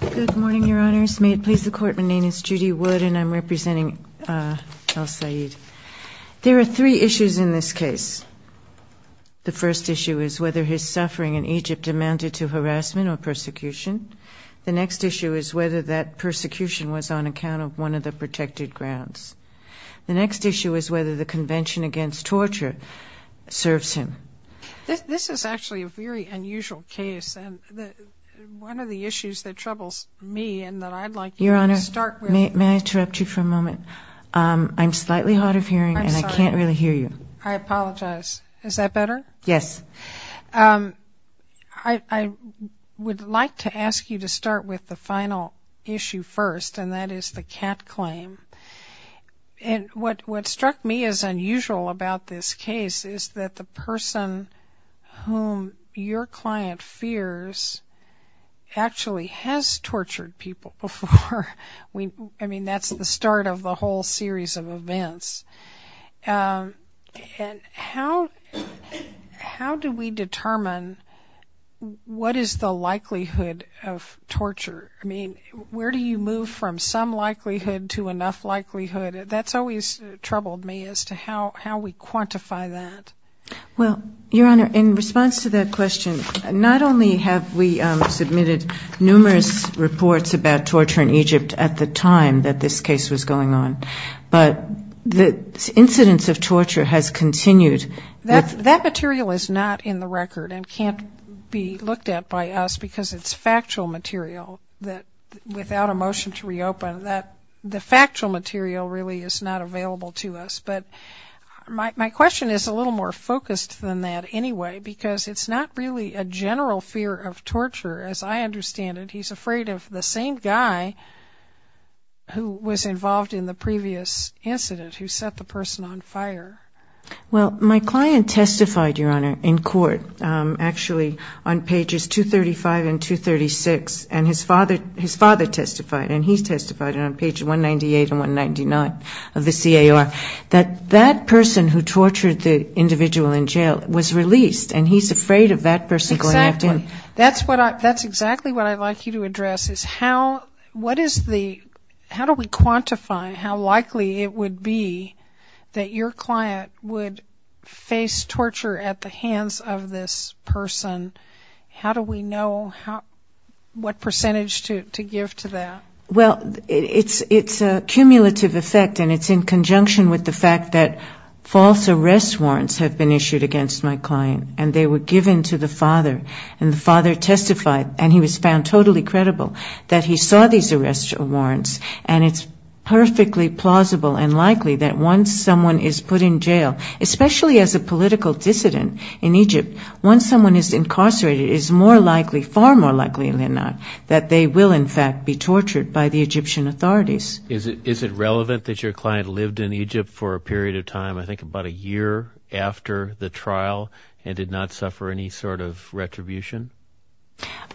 Good morning, Your Honors. May it please the Court, my name is Judy Wood and I'm representing El Said. There are three issues in this case. The first issue is whether his suffering in Egypt amounted to harassment or persecution. The next issue is whether that persecution was on account of one of the protected grounds. The next issue is whether the Convention Against Torture serves him. This is actually a very unusual case and one of the issues that troubles me and that I'd like you to start with. Your Honor, may I interrupt you for a moment? I'm slightly hard of hearing and I can't really hear you. I apologize. Is that better? Yes. I would like to ask you to start with the final issue first and that is the cat claim. What struck me as unusual about this case is that the person whom your client fears actually has tortured people before. That's the start of the whole series of events. How do we determine what is the likelihood of torture? I mean, where do you move from some likelihood to enough likelihood? That's always troubled me as to how we quantify that. Well, Your Honor, in response to that question, not only have we submitted numerous reports about torture in Egypt at the time that this case was going on, but the incidence of torture has continued. That material is not in the record and can't be looked at by us because it's factual material without a motion to reopen. The factual material really is not available to us. But my question is a little more focused than that anyway because it's not really a general fear of torture as I understand it. He's afraid of the same guy who was involved in the previous incident who set the person on fire. Well, my client testified, Your Honor, in court actually on pages 235 and 236, and his father testified, and he testified on pages 198 and 199 of the CAR that that person who tortured the individual in jail was released, and he's afraid of that person going after him. Exactly. That's exactly what I'd like you to address is how do we quantify how likely it would be that your client would face torture at the hands of this person? How do we know what percentage to give to that? Well, it's a cumulative effect, and it's in conjunction with the fact that false arrest warrants have been issued against my client, and they were given to the father, and the father testified, and he was found totally credible that he saw these arrest warrants, and it's perfectly plausible and likely that once someone is put in jail, especially as a political dissident in Egypt, once someone is incarcerated, it is more likely, far more likely than not, that they will in fact be tortured by the Egyptian authorities. Is it relevant that your client lived in Egypt for a period of time, I think about a year after the trial, and did not suffer any sort of retribution?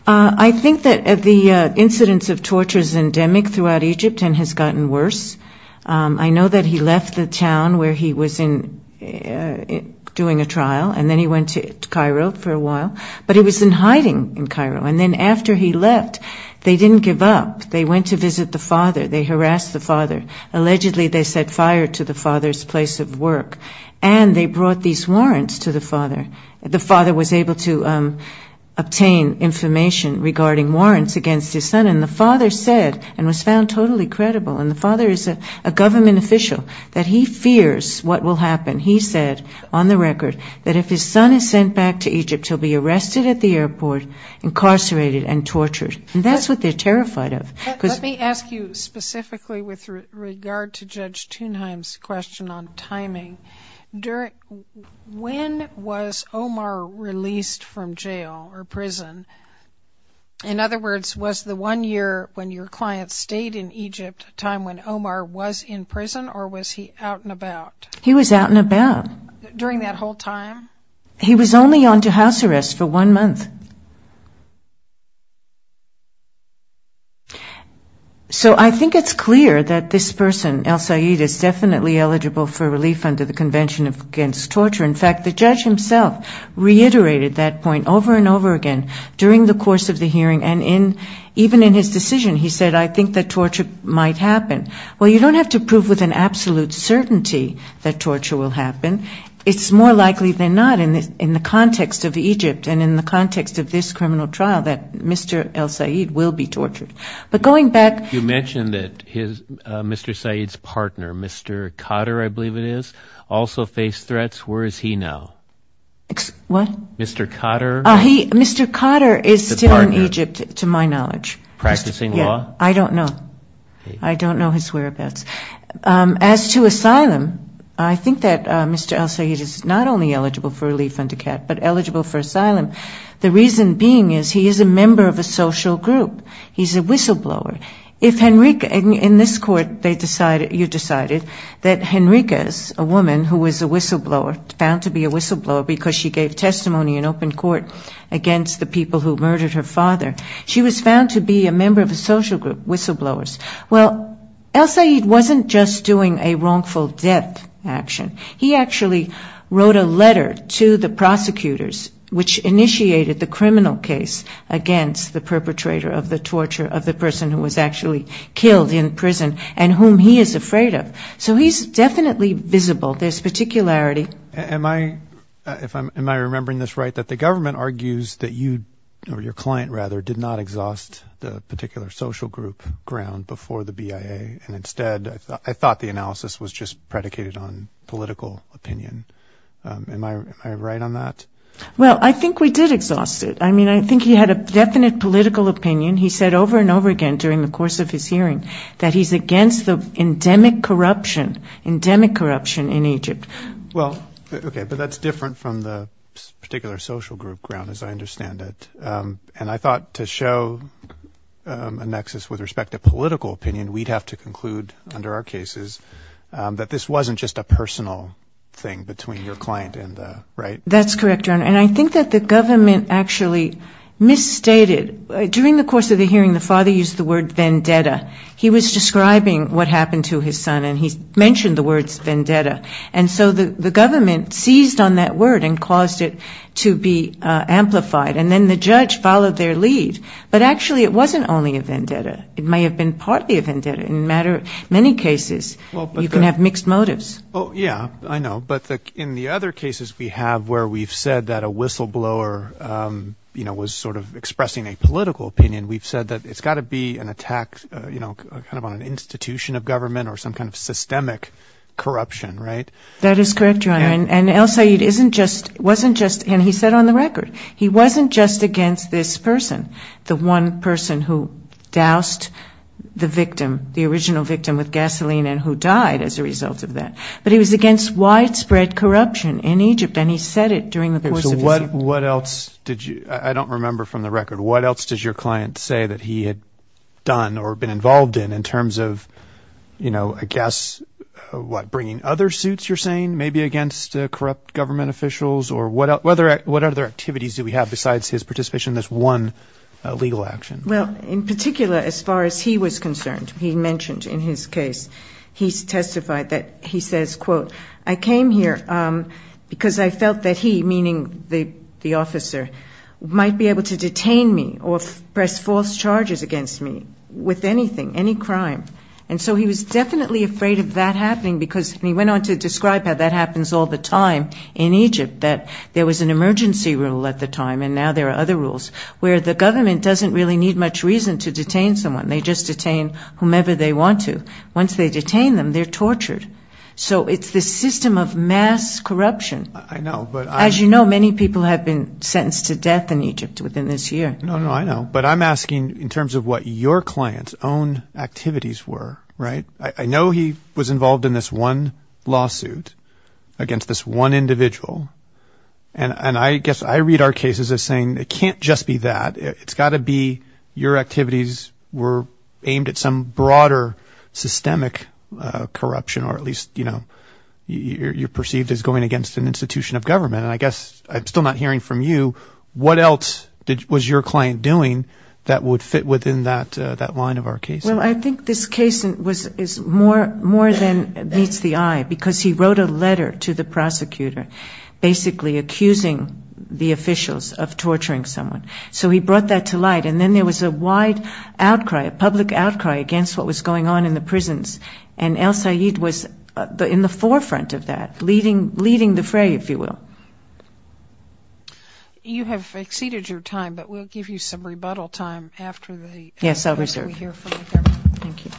I think that the incidence of torture is endemic throughout Egypt and has gotten worse. I know that he left the town where he was doing a trial, and then he went to Cairo for a while, but he was in hiding in Cairo, and then after he left, they didn't give up. They went to visit the father, they harassed the father. Allegedly they set fire to the father's place of work, and they brought these warrants to the father. The father was able to obtain information regarding warrants against his son, and the father said, and was found totally credible, and the father is a government official, that he fears what will happen. He said, on the record, that if his son is sent back to Egypt, he'll be arrested at the airport, incarcerated and tortured. And that's what they're terrified of. Let me ask you specifically with regard to Judge Thunheim's question on timing. When was Omar released from jail or prison? In other words, was the one year when your client stayed in Egypt a time when Omar was in prison, or was he out and about? He was out and about. During that whole time? He was only on to house arrest for one month. So I think it's clear that this person, El-Sayed, is definitely eligible for relief under the Convention Against Torture. In fact, the judge himself reiterated that point over and over again during the course of the hearing, and even in his decision. He said, I think that torture might happen. Well, you don't have to prove with an absolute certainty that torture will happen. It's more likely than not, in the context of Egypt and in the context of this criminal trial, that Mr. El-Sayed will be tortured. But going back... You mentioned that Mr. Sayed's partner, Mr. Kotter, I believe it is, also faced threats. Where is he now? Mr. Kotter is still in Egypt, to my knowledge. Practicing law? I don't know. I don't know his whereabouts. As to asylum, I think that Mr. El-Sayed is not only eligible for relief under CAT, but eligible for asylum. The reason being is he is a member of a social group. He's a whistleblower. In this court, you decided that Henriquez, a woman who was a whistleblower, found to be a whistleblower because she gave testimony in open court against the people who murdered her father. She was found to be a member of a social group, whistleblowers. Well, El-Sayed wasn't just doing a wrongful death action. He actually wrote a letter to the prosecutors, which initiated the criminal case against the perpetrator of the torture of the person who was actually killed in prison and whom he is afraid of. So he's definitely visible. There's particularity. Am I remembering this right, that the government argues that you, or your client rather, did not exhaust the particular social group ground before the BIA, and instead, I thought the analysis was just predicated on political opinion. Am I right on that? Well, I think we did exhaust it. I mean, I think he had a definite political opinion. He said over and over again during the course of his hearing that he's against the endemic corruption, endemic corruption in Egypt. Well, okay, but that's different from the particular social group ground, as I understand it. And I thought to show a nexus with respect to political opinion, we'd have to conclude under our cases that this wasn't just a personal thing between your client and the, right? That's correct, Your Honor. And I think that the government actually misstated. During the course of the hearing, the father used the word vendetta. He was describing what happened to his son, and he mentioned the words vendetta. And so the government seized on that word and caused it to be amplified, and then the judge followed their lead. But actually, it wasn't only a vendetta. It may have been partly a vendetta. In many cases, you can have mixed motives. Oh, yeah, I know. But in the other cases we have where we've said that a whistleblower, you know, was sort of expressing a political opinion, we've said that it's got to be an attack, you know, kind of on an institution of government or some kind of systemic corruption, right? That is correct, Your Honor. And El-Sayed isn't just, wasn't just, and he said on the record, he wasn't just against this person, the one person who doused the victim, the original victim with gasoline and who died as a result of that. But he was against widespread corruption in Egypt, and he said it during the course of his hearing. So what else did you, I don't remember from the record, what else did your client say that he had done or been involved in, in terms of, you know, I guess, what, bringing other suitors in? What other activities do we have besides his participation in this one legal action? Well, in particular, as far as he was concerned, he mentioned in his case, he testified that he says, quote, I came here because I felt that he, meaning the officer, might be able to detain me or press false charges against me with anything, any crime. And so he was definitely afraid of that happening, because, and he went on to describe how that happens all the time in Egypt, that there was an emergency rule at the time, and now there are other rules, where the government doesn't really need much reason to detain someone. They just detain whomever they want to. Once they detain them, they're tortured. So it's this system of mass corruption. I know, but I'm... I mean, I don't know what his activities were, right? I know he was involved in this one lawsuit against this one individual. And I guess I read our cases as saying, it can't just be that. It's got to be your activities were aimed at some broader systemic corruption, or at least, you know, you're perceived as going against an institution of government. And I guess I'm still not hearing from you, what else was your client doing that would fit within that line of our case? The case is more than meets the eye, because he wrote a letter to the prosecutor, basically accusing the officials of torturing someone. So he brought that to light, and then there was a wide outcry, a public outcry, against what was going on in the prisons. And El Sayed was in the forefront of that, leading the fray, if you will. You have exceeded your time, but we'll give you some rebuttal time after the... Thank you.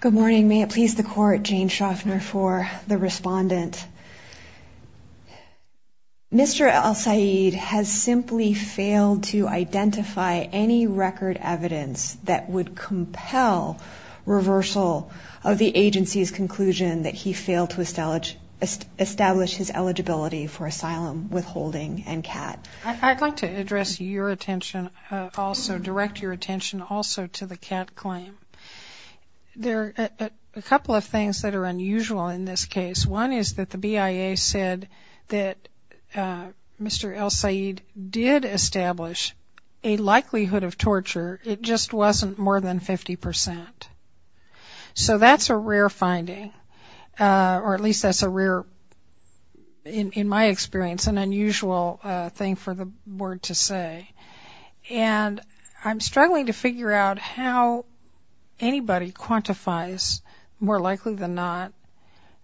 Good morning. May it please the Court, Jane Shoffner for the respondent. Mr. El Sayed has simply failed to identify any record evidence that would compel reversal of the agency's conclusion that he failed to establish a legal basis for his actions. I'd like to address your attention also, direct your attention also to the CAT claim. There are a couple of things that are unusual in this case. One is that the BIA said that Mr. El Sayed did establish a likelihood of torture, it just wasn't more than 50%. So that's a rare finding, or at least that's a rare finding. In my experience, an unusual thing for the board to say. And I'm struggling to figure out how anybody quantifies more likely than not.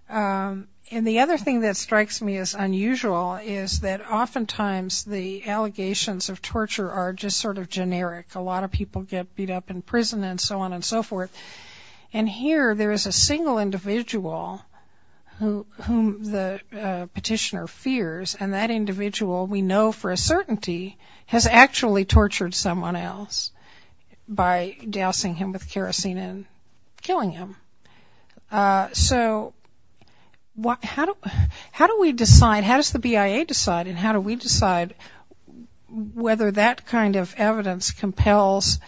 And the other thing that strikes me as unusual is that oftentimes the allegations of torture are just sort of generic. A lot of people get beat up in prison and so on and so forth. And here there is a single individual whom the petitioner fears, and that individual we know for a certainty has actually tortured someone else by dousing him with kerosene and killing him. So how do we decide, how does the BIA decide, and how do we decide whether that kind of evidence compels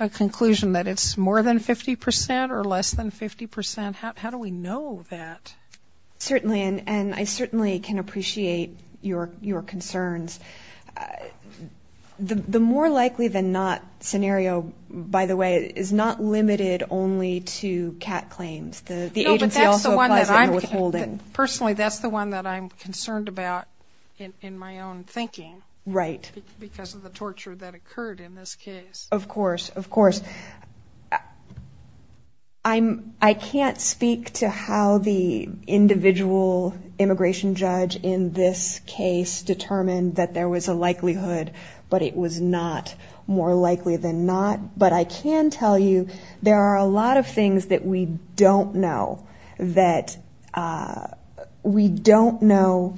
a conclusion that it's more than 50%? Or less than 50%? How do we know that? Certainly, and I certainly can appreciate your concerns. The more likely than not scenario, by the way, is not limited only to CAT claims. The agency also applies it in the withholding. No, but that's the one that I'm, personally that's the one that I'm concerned about in my own thinking. Right. Because of the torture that occurred in this case. Of course, of course. I can't speak to how the individual immigration judge in this case determined that there was a likelihood, but it was not more likely than not. But I can tell you there are a lot of things that we don't know. That we don't know,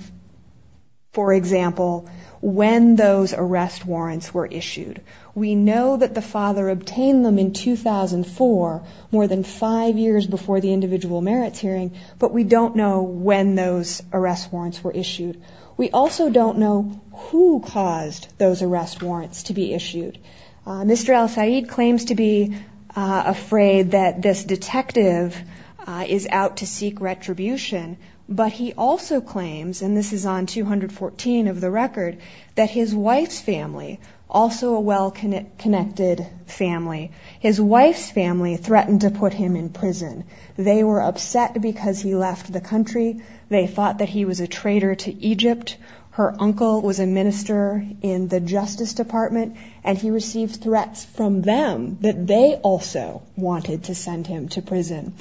for example, when those arrest warrants were issued. We know that the father obtained them in 2004, more than five years before the individual merits hearing, but we don't know when those arrest warrants were issued. We also don't know who caused those arrest warrants to be issued. Mr. El-Sayed claims to be afraid that this detective is going to be charged with a crime. He is out to seek retribution, but he also claims, and this is on 214 of the record, that his wife's family, also a well-connected family, his wife's family threatened to put him in prison. They were upset because he left the country. They thought that he was a traitor to Egypt. Her uncle was a minister in the Justice Department, and he received threats from them that they also wanted to send him to prison.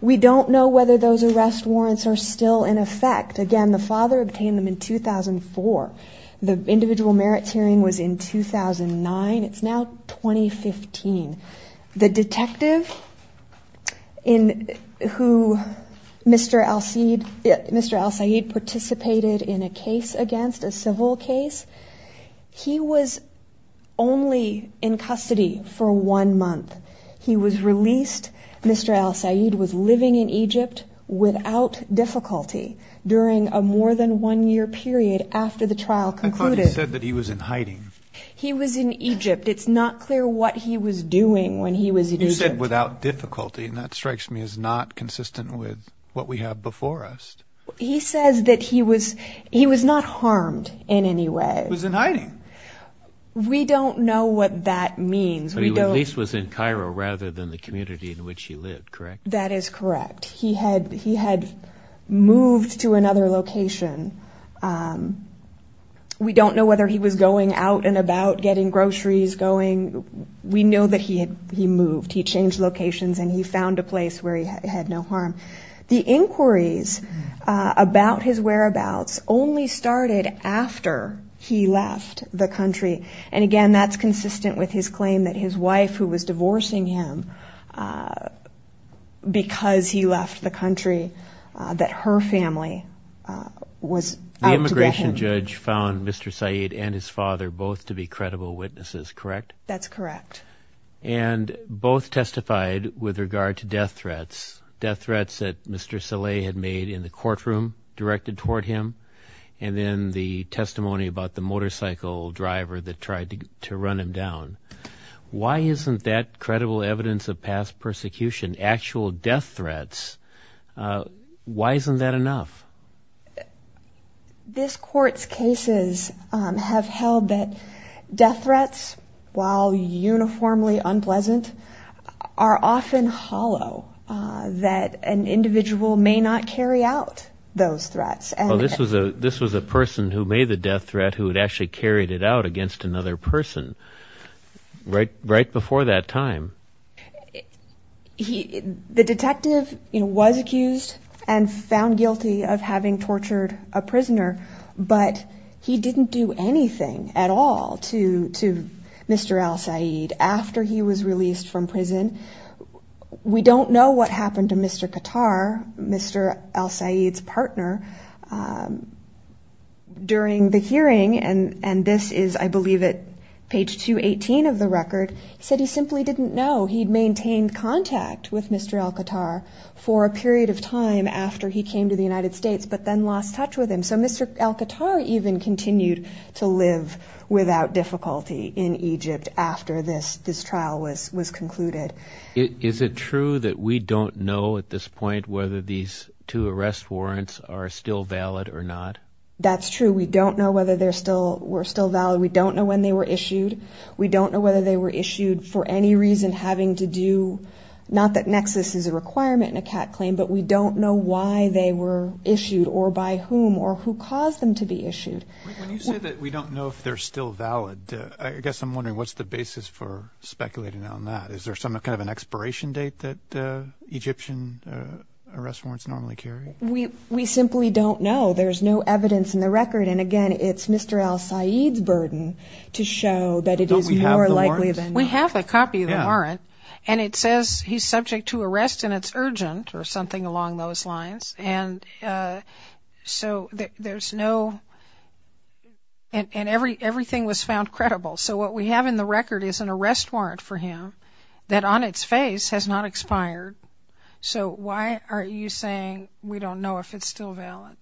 We don't know whether those arrest warrants are still in effect. Again, the father obtained them in 2004. The individual merits hearing was in 2009. It's now 2015. The detective, who Mr. El-Sayed participated in a case, is now in prison. He was only in custody for one month. He was released. Mr. El-Sayed was living in Egypt without difficulty during a more than one year period after the trial concluded. I thought he said that he was in hiding. He was in Egypt. It's not clear what he was doing when he was in Egypt. You said without difficulty, and that strikes me as not consistent with what we have before us. He says that he was not harmed in any way. We don't know what that means. That is correct. He had moved to another location. We don't know whether he was going out and about getting groceries. He changed locations and he found a place where he had no harm. The inquiries about his whereabouts only started after he left the country. Again, that's consistent with his claim that his wife, who was divorcing him because he left the country, that her family was out to get him. The immigration judge found Mr. El-Sayed and his father both to be credible witnesses, correct? That's correct. And both testified with regard to death threats, death threats that Mr. El-Sayed had made in the courtroom directed toward him, and then the testimony about the motorcycle driver that tried to run him down. Why isn't that credible evidence of past persecution, actual death threats, why isn't that enough? This court's cases have held that death threats, while uniformly unpleasant, are often hollow, that an individual may not carry out those threats. This was a person who made the death threat who had actually carried it out against another person right before that time. The detective was accused and found guilty of two crimes. One of them was the death threat of having tortured a prisoner, but he didn't do anything at all to Mr. El-Sayed after he was released from prison. We don't know what happened to Mr. Kattar, Mr. El-Sayed's partner, during the hearing, and this is, I believe, at page 218 of the record. He said he simply didn't know, he'd maintained contact with Mr. El-Kattar for a period of time after he came to the United States. But then lost touch with him, so Mr. El-Kattar even continued to live without difficulty in Egypt after this trial was concluded. Is it true that we don't know at this point whether these two arrest warrants are still valid or not? That's true, we don't know whether they're still, were still valid, we don't know when they were issued. We don't know whether they were issued for any reason having to do, not that nexus is a requirement in a Katt claim, but we don't know why they were issued or by whom or who caused them to be issued. When you say that we don't know if they're still valid, I guess I'm wondering what's the basis for speculating on that? Is there some kind of an expiration date that Egyptian arrest warrants normally carry? We simply don't know, there's no evidence in the record, and again, it's Mr. El-Sayed's burden to show that it is more likely than not. Don't we have the warrant? We do have something along those lines, and so there's no, and everything was found credible, so what we have in the record is an arrest warrant for him that on its face has not expired, so why are you saying we don't know if it's still valid?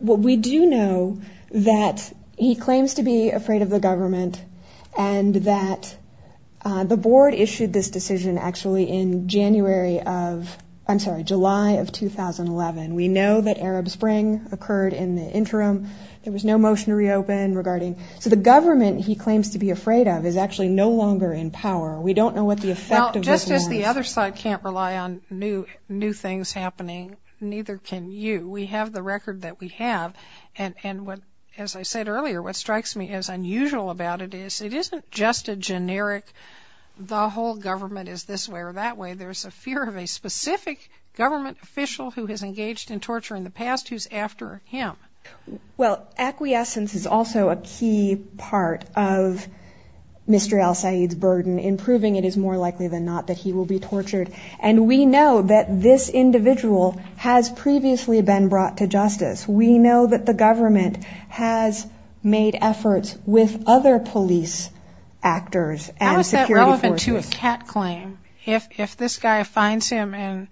Well, we do know that he claims to be afraid of the government and that the board issued this decision actually in January of, I'm sorry, July of 2011, we know that Arab Spring occurred in the interim, there was no motion to reopen regarding, so the government he claims to be afraid of is actually no longer in power. We don't know what the effect of this is. Well, just as the other side can't rely on new things happening, neither can you. We have the record that we have, and as I said earlier, what strikes me as unusual about it is it isn't just a generic, the whole government is this way or that way, there's a fear of a specific government official who has engaged in torture in the past who's after him. Well, acquiescence is also a key part of Mr. Al-Sayed's burden in proving it is more likely than not that he will be tortured, and we know that this individual has previously been brought to justice. We know that the government has made efforts with other police actors. How is that relevant to a cat claim? If this guy finds him and,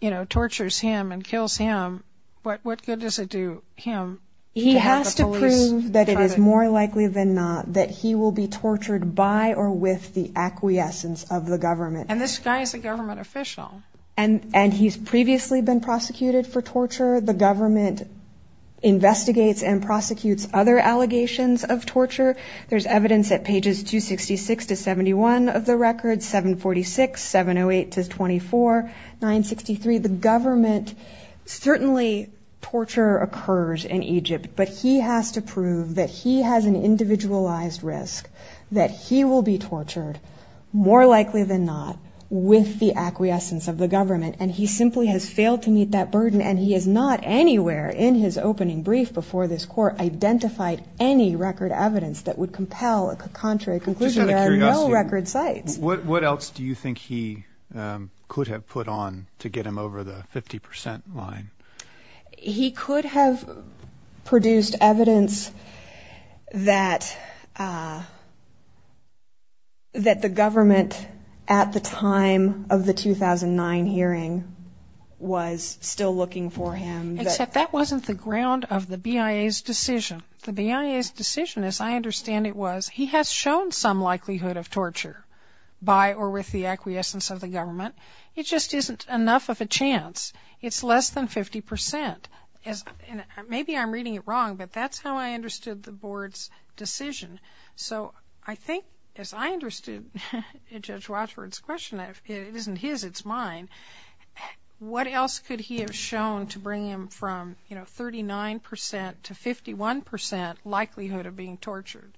you know, tortures him and kills him, what good does it do him? He has to prove that it is more likely than not that he will be tortured by or with the acquiescence of the government. And this guy is a government official. And he's previously been prosecuted for torture, the government investigates and prosecutes other allegations of torture. There's evidence at pages 266 to 71 of the record, 746, 708 to 24, 963. The government, certainly torture occurs in Egypt, but he has to prove that he has an individualized risk, that he will be tortured more likely than not with the acquiescence of the government, and he simply has failed to meet that burden and he has not anywhere in his opening brief before this court identified any record evidence that would compel a contrary conclusion and no record sites. What else do you think he could have put on to get him over the 50% line? He could have produced evidence that the government at the time of the 2009 hearing was still looking for him. Except that wasn't the ground of the BIA's decision. The BIA's decision, as I understand it, was he has shown some likelihood of torture by or with the acquiescence of the government, it just isn't enough of a chance, it's less than 50%. Maybe I'm reading it wrong, but that's how I understood the board's decision. So I think, as I understood Judge Watford's question, it isn't his, it's mine, but what else could he have shown to bring him from 39% to 51% likelihood of being tortured?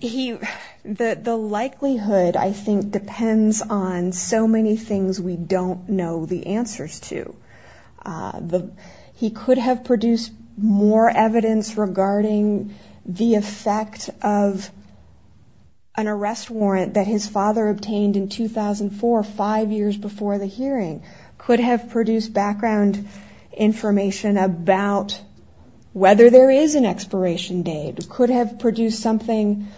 He, the likelihood I think depends on so many things we don't know the answers to. He could have produced more evidence regarding the effect of an arrest warrant that his father obtained in 2009 or 2004, five years before the hearing. Could have produced background information about whether there is an expiration date. Could have produced something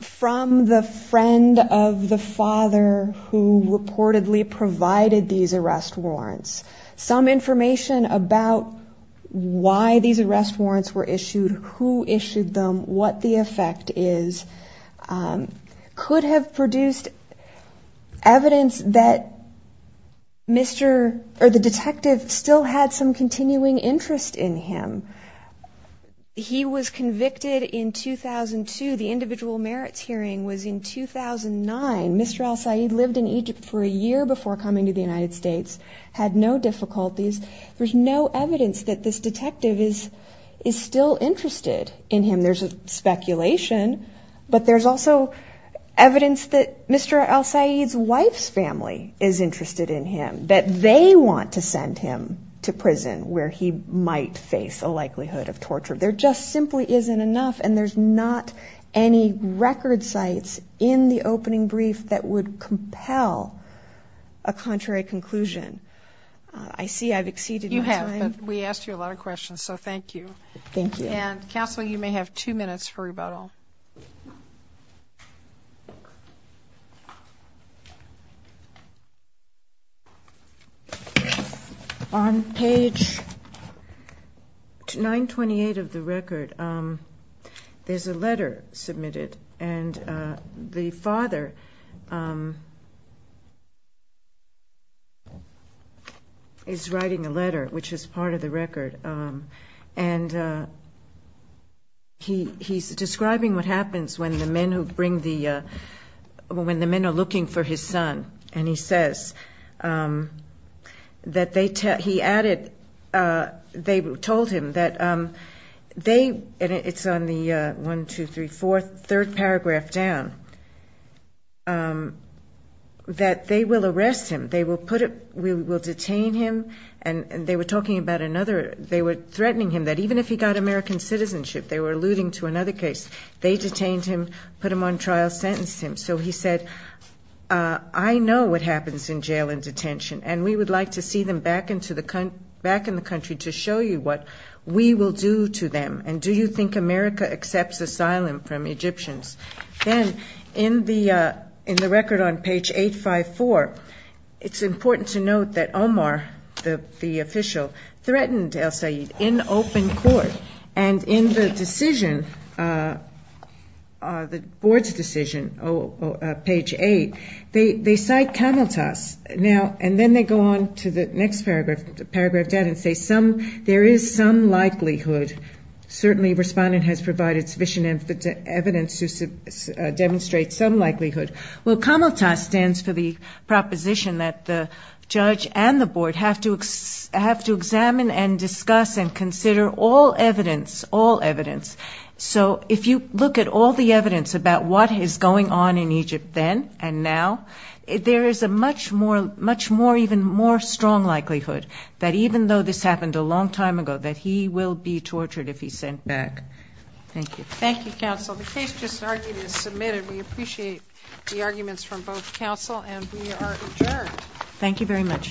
from the friend of the father who reportedly provided these arrest warrants. Some information about why these arrest warrants were issued, who issued them, what the effect is. Could have produced evidence that Mr. or the detective still had some continuing interest in him. He was convicted in 2002, the individual merits hearing was in 2009. Mr. El-Sayed lived in Egypt for a year before coming to the United States, had no difficulties. There's no evidence that this detective is still interested in him. There's speculation, but there's also evidence that Mr. El-Sayed's wife's family is interested in him, that they want to send him to prison where he might face a likelihood of torture. There just simply isn't enough and there's not any record sites in the opening brief that would compel a contrary conclusion. I see I've exceeded my time. Two minutes for rebuttal. On page 928 of the record, there's a letter submitted and the father is writing a letter, which is part of the record. And he's describing what happens when the men who bring the, when the men are looking for his son. And he says that they, he added, they told him that they, it's on the 1, 2, 3, 4, third paragraph down, that they will arrest him. They will put him, we will detain him, and they were talking about another, they were threatening him that even if he got American citizenship, they were alluding to another case, they detained him, put him on trial, sentenced him. So he said, I know what happens in jail and detention, and we would like to see them back in the country to show you what we will do to them. And do you think America accepts asylum from Egyptians? Then in the record on page 854, it's important to note that Omar, the official, threatened El-Sayed in open court. And in the decision, the board's decision, page 8, they cite Cameltas. Now, and then they go on to the next paragraph, paragraph 10, and say some, there is some likelihood. Certainly respondent has provided sufficient evidence to demonstrate some likelihood. Well, Cameltas stands for the proposition that the judge and the board have to examine and discuss and consider all evidence, all evidence. So if you look at all the evidence about what is going on in Egypt then and now, there is a much more, much more, even more strong likelihood that even though this happened a long time ago, that he will be tortured if he's sent back. Thank you.